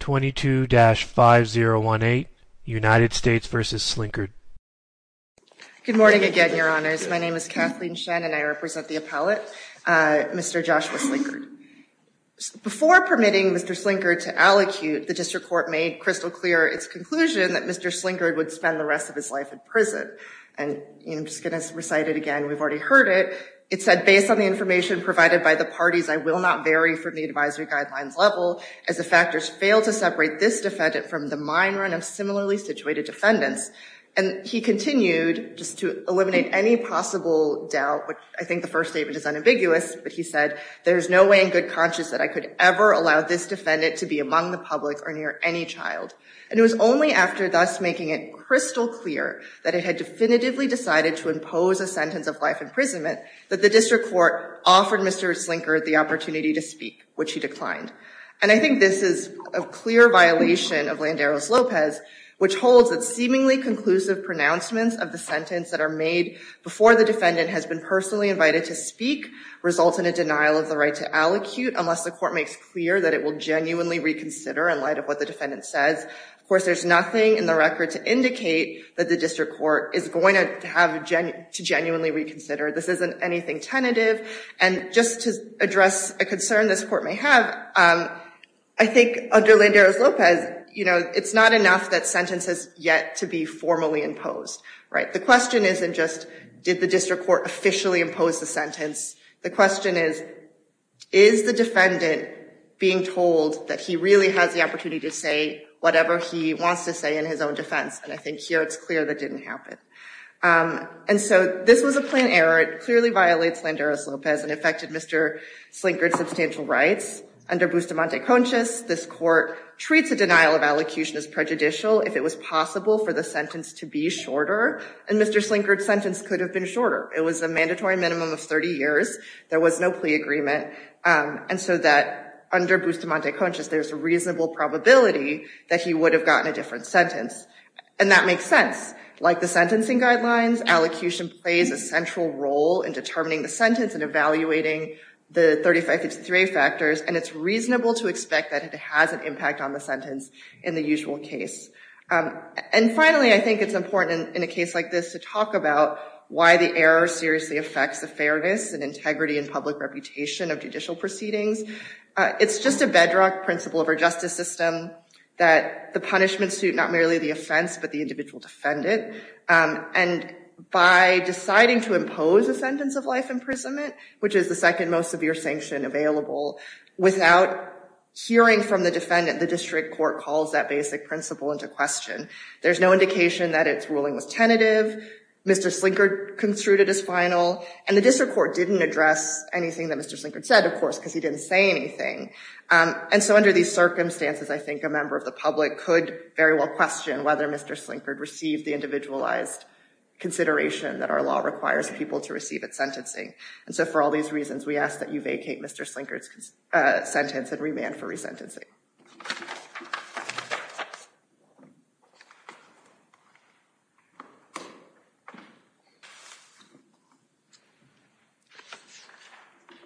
22-5018, United States v. Slinkard. Good morning again, Your Honors. My name is Kathleen Shen and I represent the appellate, Mr. Joshua Slinkard. Before permitting Mr. Slinkard to allocute, the District Court made crystal clear its conclusion that Mr. Slinkard would spend the rest of his life in prison. And I'm just going to recite it again, we've already heard it. It said, based on the information provided by the parties, I will not vary from the advisory guidelines level as the factors fail to separate this defendant from the minority of similarly situated defendants. And he continued, just to eliminate any possible doubt, which I think the first statement is unambiguous, but he said, there is no way in good conscience that I could ever allow this defendant to be among the public or near any child. And it was only after thus making it crystal clear that it had definitively decided to impose a sentence of life imprisonment that the District Court offered Mr. Slinkard the opportunity to speak, which he declined. And I think this is a clear violation of Landeros-Lopez, which holds that seemingly conclusive pronouncements of the sentence that are made before the defendant has been personally invited to speak result in a denial of the right to allocute unless the court makes clear that it will genuinely reconsider in light of what the defendant says. Of course, there's nothing in the record to indicate that the District Court is going to have to genuinely reconsider. This isn't anything tentative. And just to address a concern this court may have, I think under Landeros-Lopez, it's not enough that sentence has yet to be formally imposed. The question isn't just, did the District Court officially impose the sentence? The question is, is the defendant being told that he really has the opportunity to say whatever he wants to say in his own defense? And I think here it's clear that didn't happen. And so this was a plan error. It clearly violates Landeros-Lopez and affected Mr. Slinkard's substantial rights. Under Bustamante-Conchis, this court treats a denial of allocution as prejudicial if it was possible for the sentence to be shorter. And Mr. Slinkard's sentence could have been shorter. It was a mandatory minimum of 30 years. There was no plea agreement. And so that under Bustamante-Conchis, there's a reasonable probability that he would have gotten a different sentence. And that makes sense. Like the sentencing guidelines, allocution plays a central role in determining the sentence and evaluating the 3553 factors. And it's reasonable to expect that it has an impact on the sentence in the usual case. And finally, I think it's important in a case like this to talk about why the error seriously affects the fairness and integrity and public reputation of judicial proceedings. It's just a bedrock principle of our justice system that the punishment suit not merely the offense but the individual defendant. And by deciding to impose a sentence of life imprisonment, which is the second most severe sanction available, without hearing from the defendant, the district court calls that basic principle into question. There's no indication that its ruling was tentative. Mr. Slinkard construed it as final. And the district court didn't address anything that Mr. Slinkard said, of course, because he didn't say anything. And so under these circumstances, I think a member of the public could very well question whether Mr. Slinkard received the individualized consideration that our law requires people to receive at sentencing. And so for all these reasons, we ask that you vacate Mr. Slinkard's sentence and remand for resentencing.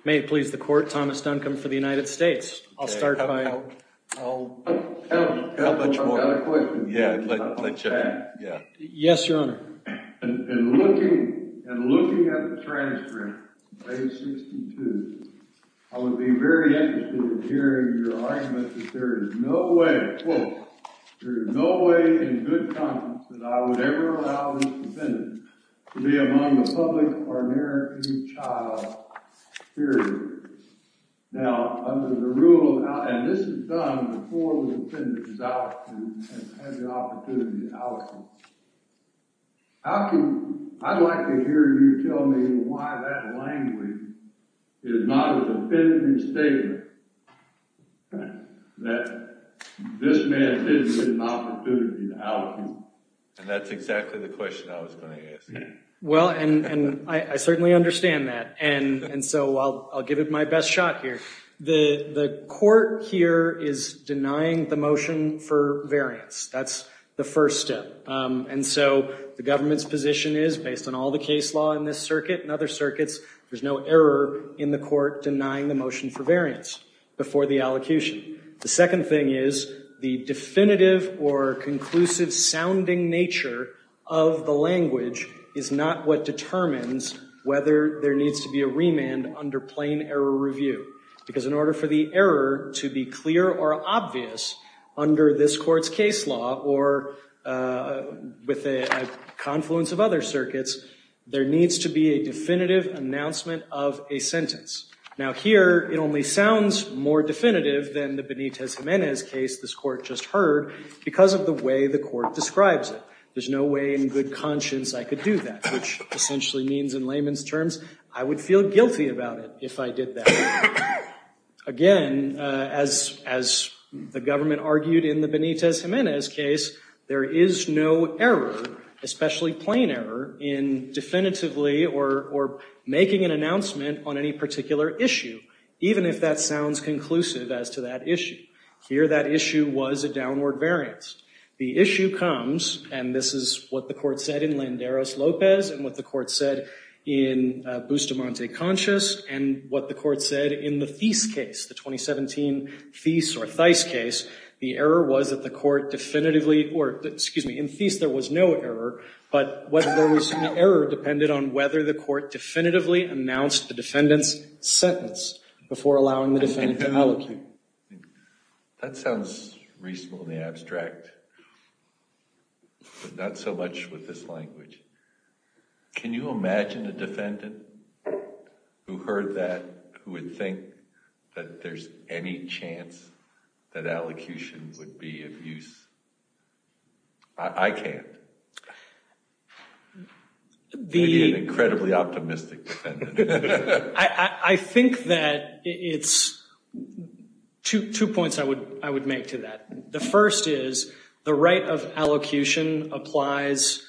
May it please the court, Thomas Duncombe for the United States. I'll start by I've got a question. Yes, your honor. In looking at the transcript, page 62, I would be very interested in hearing your argument that there is no way, quote, Now, under the rule, and this is done before the defendant is out and has the opportunity to out him. I'd like to hear you tell me why that language is not a defendant's statement that this man didn't get an opportunity to out him. And that's exactly the question I was going to ask. Well, and I certainly understand that. And so I'll give it my best shot here. The court here is denying the motion for variance. That's the first step. And so the government's position is, based on all the case law in this circuit and other circuits, there's no error in the court denying the motion for variance before the allocution. The second thing is the definitive or conclusive sounding nature of the language is not what determines whether there needs to be a remand under plain error review. Because in order for the error to be clear or obvious under this court's case law or with a confluence of other circuits, there needs to be a definitive announcement of a sentence. Now here, it only sounds more definitive than the Benitez-Gimenez case this court just heard because of the way the court describes it. There's no way in good conscience I could do that, which essentially means in layman's terms, I would feel guilty about it if I did that. Again, as the government argued in the Benitez-Gimenez case, there is no error, especially plain error, in definitively or making an announcement on any particular issue, even if that sounds conclusive as to that issue. Here, that issue was a downward variance. The issue comes, and this is what the court said in Landeros-Lopez and what the court said in Bustamante-Conscious and what the court said in the Thies case, the 2017 Thies or Thies case. The error was that the court definitively or, excuse me, in Thies there was no error, but whether there was an error depended on whether the court definitively announced the defendant's sentence before allowing the defendant to allocate. That sounds reasonable in the abstract, but not so much with this language. Can you imagine a defendant who heard that who would think that there's any chance that allocutions would be of use? I can't. Maybe an incredibly optimistic defendant. I think that it's two points I would make to that. The first is the right of allocation applies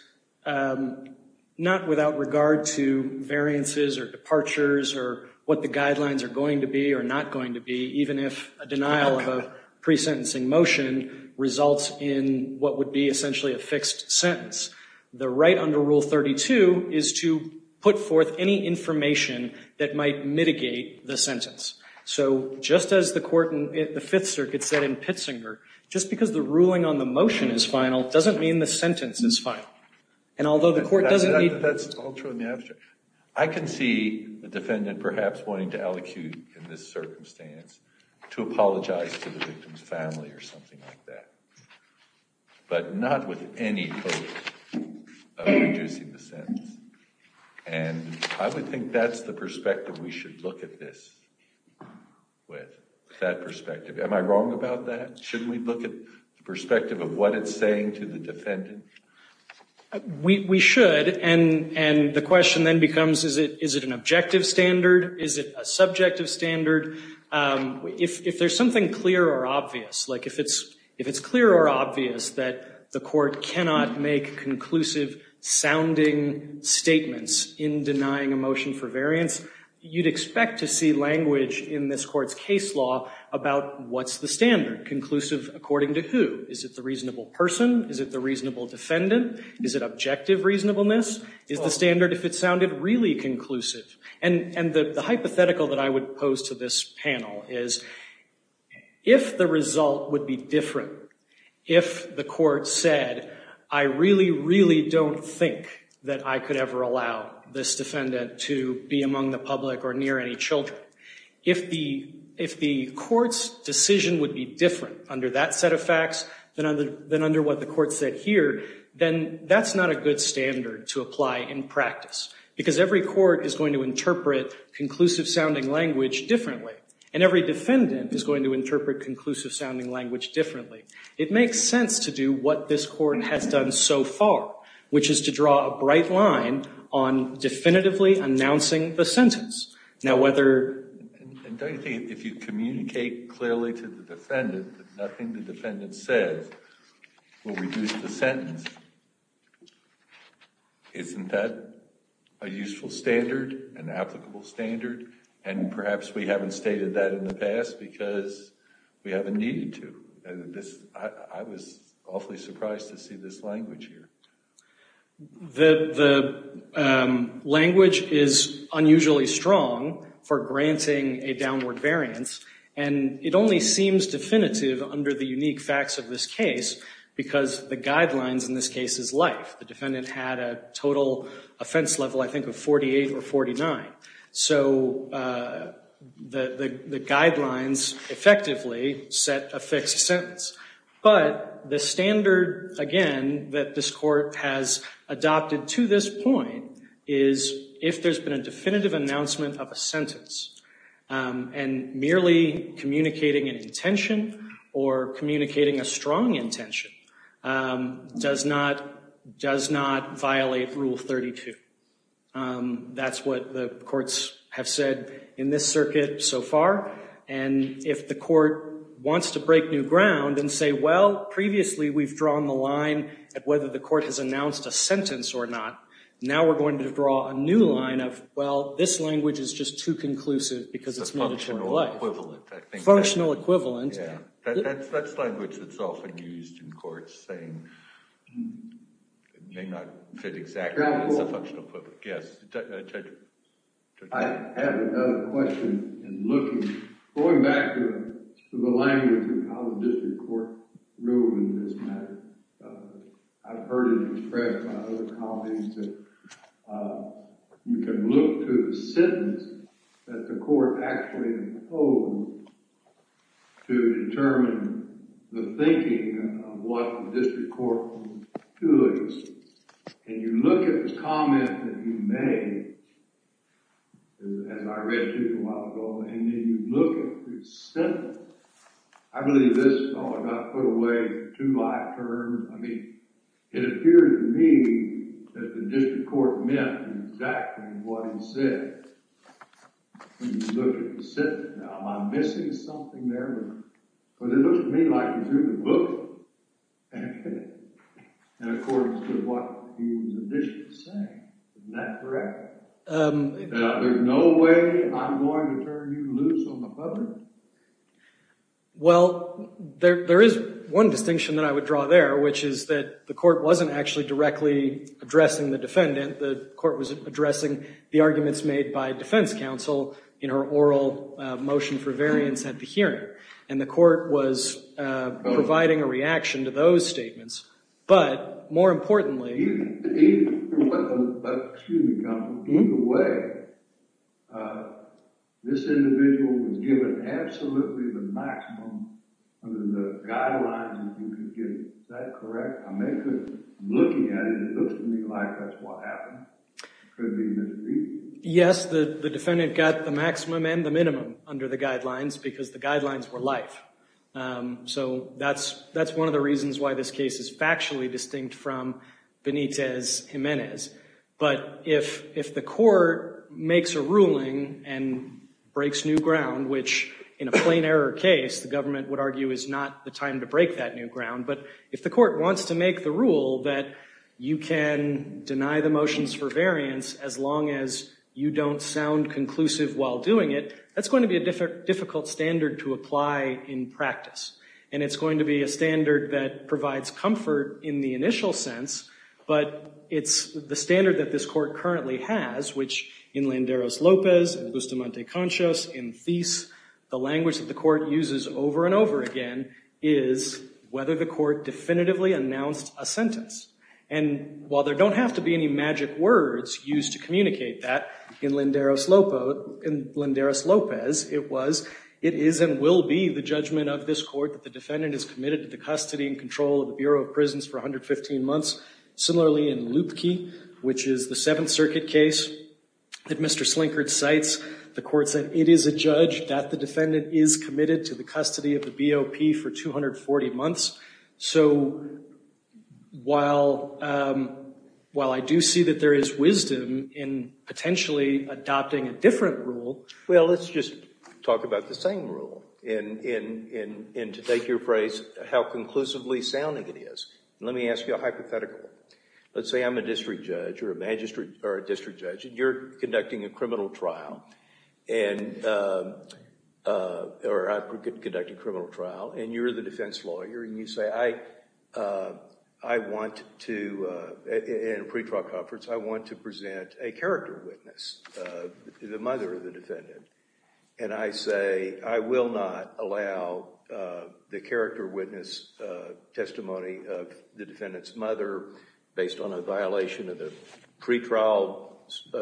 not without regard to variances or departures or what the guidelines are going to be or not going to be, even if a denial of a pre-sentencing motion results in what would be essentially a fixed sentence. The right under Rule 32 is to put forth any information that might mitigate the sentence. So just as the court in the Fifth Circuit said in Pitzinger, just because the ruling on the motion is final doesn't mean the sentence is final. And although the court doesn't need— That's all true in the abstract. I can see the defendant perhaps wanting to allocate in this circumstance to apologize to the victim's family or something like that, but not with any hope of reducing the sentence. And I would think that's the perspective we should look at this with, that perspective. Am I wrong about that? Shouldn't we look at the perspective of what it's saying to the defendant? We should. And the question then becomes, is it an objective standard? Is it a subjective standard? If there's something clear or obvious, like if it's clear or obvious that the court cannot make conclusive-sounding statements in denying a motion for variance, you'd expect to see language in this court's case law about what's the standard. Conclusive according to who? Is it the reasonable person? Is it the reasonable defendant? Is it objective reasonableness? Is the standard, if it sounded really conclusive? And the hypothetical that I would pose to this panel is, if the result would be different, if the court said, I really, really don't think that I could ever allow this defendant to be among the public or near any children, if the court's decision would be different under that set of facts than under what the court said here, then that's not a good standard to apply in practice. Because every court is going to interpret conclusive-sounding language differently. And every defendant is going to interpret conclusive-sounding language differently. It makes sense to do what this court has done so far, which is to draw a bright line on definitively announcing the sentence. And don't you think if you communicate clearly to the defendant that nothing the defendant says will reduce the sentence, isn't that a useful standard, an applicable standard? And perhaps we haven't stated that in the past because we haven't needed to. I was awfully surprised to see this language here. The language is unusually strong for granting a downward variance. And it only seems definitive under the unique facts of this case because the guidelines in this case is life. The defendant had a total offense level, I think, of 48 or 49. So the guidelines effectively set a fixed sentence. But the standard, again, that this court has adopted to this point is if there's been a definitive announcement of a sentence, and merely communicating an intention or communicating a strong intention does not violate Rule 32. That's what the courts have said in this circuit so far. And if the court wants to break new ground and say, well, previously we've drawn the line at whether the court has announced a sentence or not. Now we're going to draw a new line of, well, this language is just too conclusive because it's made a short life. It's a functional equivalent, I think. Functional equivalent. Yeah. That's language that's often used in courts saying it may not fit exactly, but it's a functional equivalent. Yes. Judge? I have another question in looking. Going back to the language in how the district court rules in this matter, I've heard it expressed by other colleagues that you can look to the sentence that the court actually imposed to determine the thinking of what the district court was doing. And you look at the comment that you made, as I read to you a while ago, and then you look at the sentence. I believe this got put away too long term. I mean, it appears to me that the district court meant exactly what it said. When you look at the sentence, am I missing something there? Because it looks to me like you drew the book in accordance to what he was initially saying. Isn't that correct? There's no way I'm going to turn you loose on the public? Well, there is one distinction that I would draw there, which is that the court wasn't actually directly addressing the defendant. The court was addressing the arguments made by defense counsel in her oral motion for variance at the hearing. And the court was providing a reaction to those statements. But more importantly— Excuse me, counsel. In a way, this individual was given absolutely the maximum of the guidelines that you could give. Is that correct? I'm looking at it, and it looks to me like that's what happened. It could have been misdreavus. Yes, the defendant got the maximum and the minimum under the guidelines because the guidelines were life. So that's one of the reasons why this case is factually distinct from Benitez-Jimenez. But if the court makes a ruling and breaks new ground, which in a plain error case the government would argue is not the time to break that new ground, but if the court wants to make the rule that you can deny the motions for variance as long as you don't sound conclusive while doing it, that's going to be a difficult standard to apply in practice. And it's going to be a standard that provides comfort in the initial sense, but it's the standard that this court currently has, which in Landeros-Lopez, in Guzman de Conchas, in Thies, the language that the court uses over and over again is whether the court definitively announced a sentence. And while there don't have to be any magic words used to communicate that, in Landeros-Lopez it was, it is and will be the judgment of this court that the defendant is committed to the custody and control of the Bureau of Prisons for 115 months. Similarly, in Lupke, which is the Seventh Circuit case that Mr. Slinkard cites, the court said it is adjudged that the defendant is committed to the custody of the BOP for 240 months. So while I do see that there is wisdom in potentially adopting a different rule... Well, let's just talk about the same rule and to take your phrase, how conclusively sounding it is. Let me ask you a hypothetical. Let's say I'm a district judge or a magistrate or a district judge and you're conducting a criminal trial, or I'm conducting a criminal trial, and you're the defense lawyer and you say, I want to, in a pretrial conference, I want to present a character witness, the mother of the defendant. And I say, I will not allow the character witness testimony of the defendant's mother based on a violation of the pretrial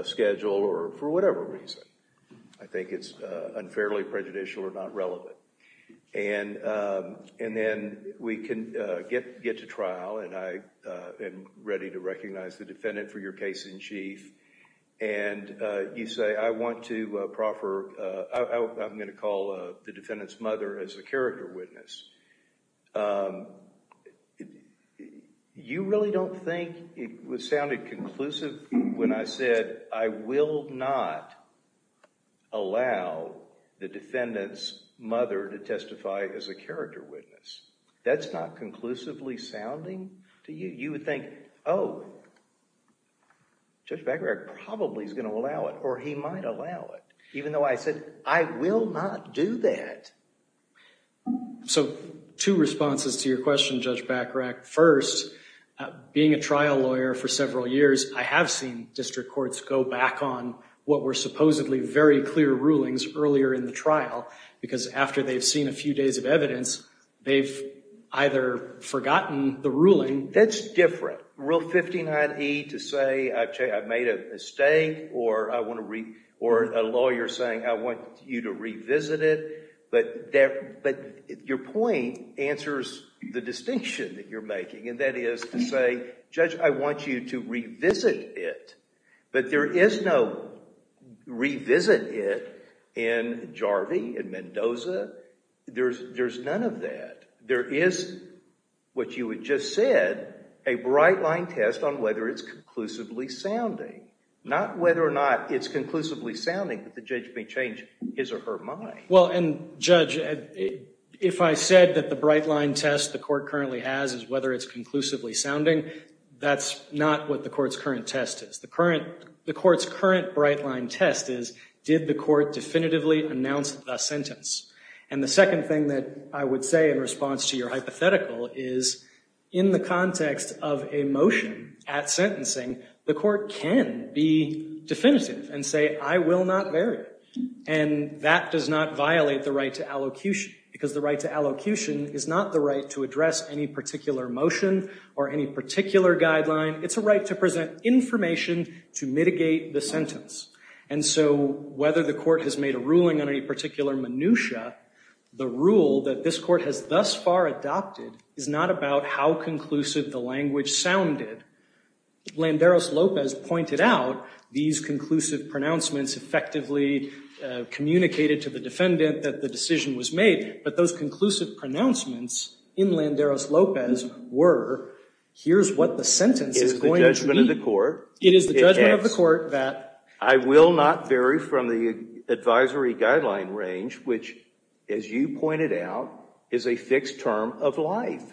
schedule or for whatever reason. I think it's unfairly prejudicial or not relevant. And then we can get to trial and I am ready to recognize the defendant for your case in chief. And you say, I want to proffer, I'm going to call the defendant's mother as a character witness. You really don't think it sounded conclusive when I said, I will not allow the defendant's mother to testify as a character witness. That's not conclusively sounding to you. You would think, oh, Judge Baccarat probably is going to allow it or he might allow it, even though I said, I will not do that. So two responses to your question, Judge Baccarat. First, being a trial lawyer for several years, I have seen district courts go back on what were supposedly very clear rulings earlier in the trial because after they've seen a few days of evidence, they've either forgotten the ruling. That's different. Rule 59E to say I've made a mistake or a lawyer saying I want you to revisit it. But your point answers the distinction that you're making, and that is to say, Judge, I want you to revisit it. But there is no revisit it in Jarvie, in Mendoza. There's none of that. There is what you had just said, a bright line test on whether it's conclusively sounding. Not whether or not it's conclusively sounding that the judge may change his or her mind. Well, and Judge, if I said that the bright line test the court currently has is whether it's conclusively sounding, that's not what the court's current test is. The court's current bright line test is did the court definitively announce the sentence? And the second thing that I would say in response to your hypothetical is in the context of a motion at sentencing, the court can be definitive and say, I will not vary. And that does not violate the right to allocution, because the right to allocution is not the right to address any particular motion or any particular guideline. It's a right to present information to mitigate the sentence. And so whether the court has made a ruling on any particular minutia, the rule that this court has thus far adopted is not about how conclusive the language sounded. Landeros-Lopez pointed out these conclusive pronouncements effectively communicated to the defendant that the decision was made. But those conclusive pronouncements in Landeros-Lopez were, here's what the sentence is going to be. It is the judgment of the court that I will not vary from the advisory guideline range, which, as you pointed out, is a fixed term of life.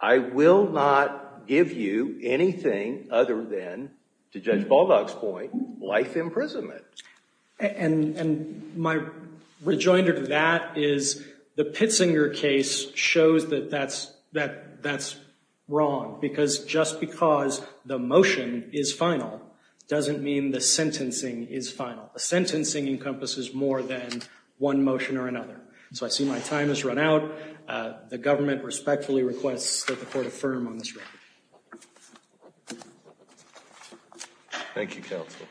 I will not give you anything other than, to Judge Baldock's point, life imprisonment. And my rejoinder to that is the Pitzinger case shows that that's wrong, because just because the motion is final doesn't mean the sentencing is final. The sentencing encompasses more than one motion or another. So I see my time has run out. The government respectfully requests that the court affirm on this record. Thank you, counsel.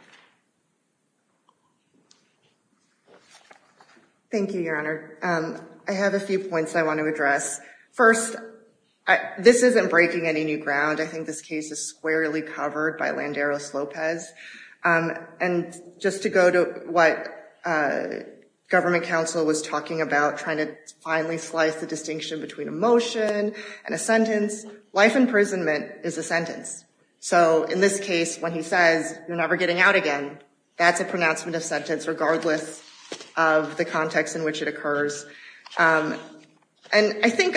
Thank you, Your Honor. I have a few points I want to address. First, this isn't breaking any new ground. I think this case is squarely covered by Landeros-Lopez. And just to go to what government counsel was talking about, trying to finally slice the distinction between a motion and a sentence, life imprisonment is a sentence. So in this case, when he says, you're never getting out again, that's a pronouncement of sentence regardless of the context in which it occurs. And I think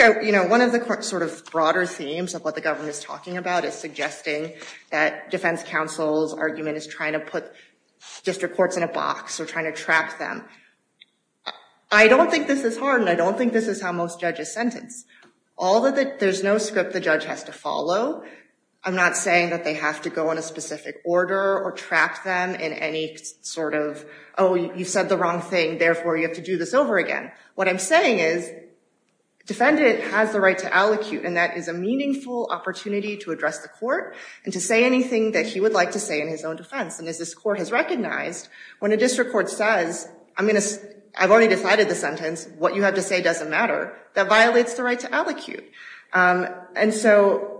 one of the sort of broader themes of what the government is talking about is suggesting that defense counsel's argument is trying to put district courts in a box or trying to trap them. I don't think this is hard, and I don't think this is how most judges sentence. Although there's no script the judge has to follow, I'm not saying that they have to go in a specific order or trap them in any sort of, oh, you said the wrong thing, therefore you have to do this over again. What I'm saying is defendant has the right to allocute, and that is a meaningful opportunity to address the court and to say anything that he would like to say in his own defense. And as this court has recognized, when a district court says, I've already decided the sentence, what you have to say doesn't matter, that violates the right to allocute. And so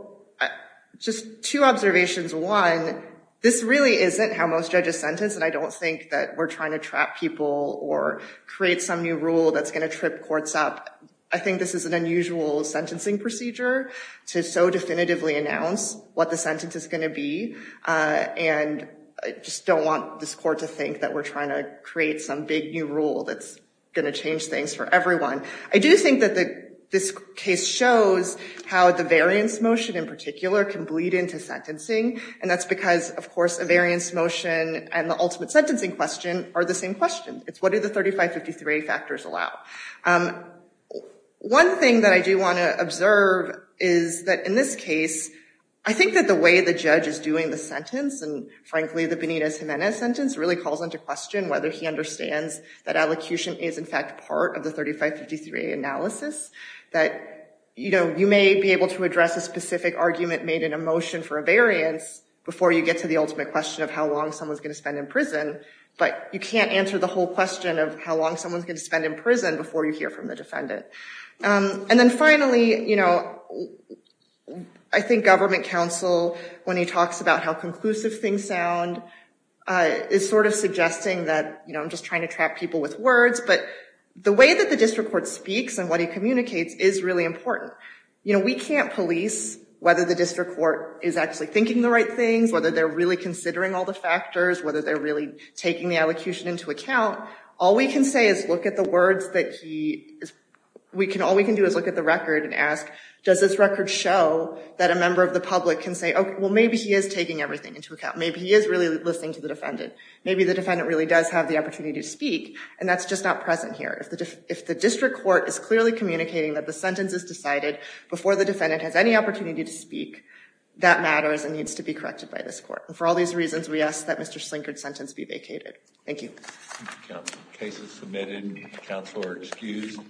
just two observations. One, this really isn't how most judges sentence, and I don't think that we're trying to trap people or create some new rule that's going to trip courts up. I think this is an unusual sentencing procedure to so definitively announce what the sentence is going to be, and I just don't want this court to think that we're trying to create some big new rule that's going to change things for everyone. I do think that this case shows how the variance motion in particular can bleed into sentencing, and that's because, of course, a variance motion and the ultimate sentencing question are the same question. It's what do the 3553A factors allow? One thing that I do want to observe is that in this case, I think that the way the judge is doing the sentence, and frankly the Benitez-Jimenez sentence, really calls into question whether he understands that allocution is in fact part of the 3553A analysis, that you may be able to address a specific argument made in a motion for a variance of how long someone's going to spend in prison, but you can't answer the whole question of how long someone's going to spend in prison before you hear from the defendant. And then finally, I think government counsel, when he talks about how conclusive things sound, is sort of suggesting that, I'm just trying to trap people with words, but the way that the district court speaks and what he communicates is really important. We can't police whether the district court is actually thinking the right things, whether they're really considering all the factors, whether they're really taking the allocution into account. All we can say is look at the words that he, all we can do is look at the record and ask, does this record show that a member of the public can say, okay, well maybe he is taking everything into account, maybe he is really listening to the defendant, maybe the defendant really does have the opportunity to speak, and that's just not present here. If the district court is clearly communicating that the sentence is decided before the defendant has any opportunity to speak, that matters and needs to be corrected by this court. For all these reasons, we ask that Mr. Slinkard's sentence be vacated. Thank you. Cases submitted. Counsel are excused.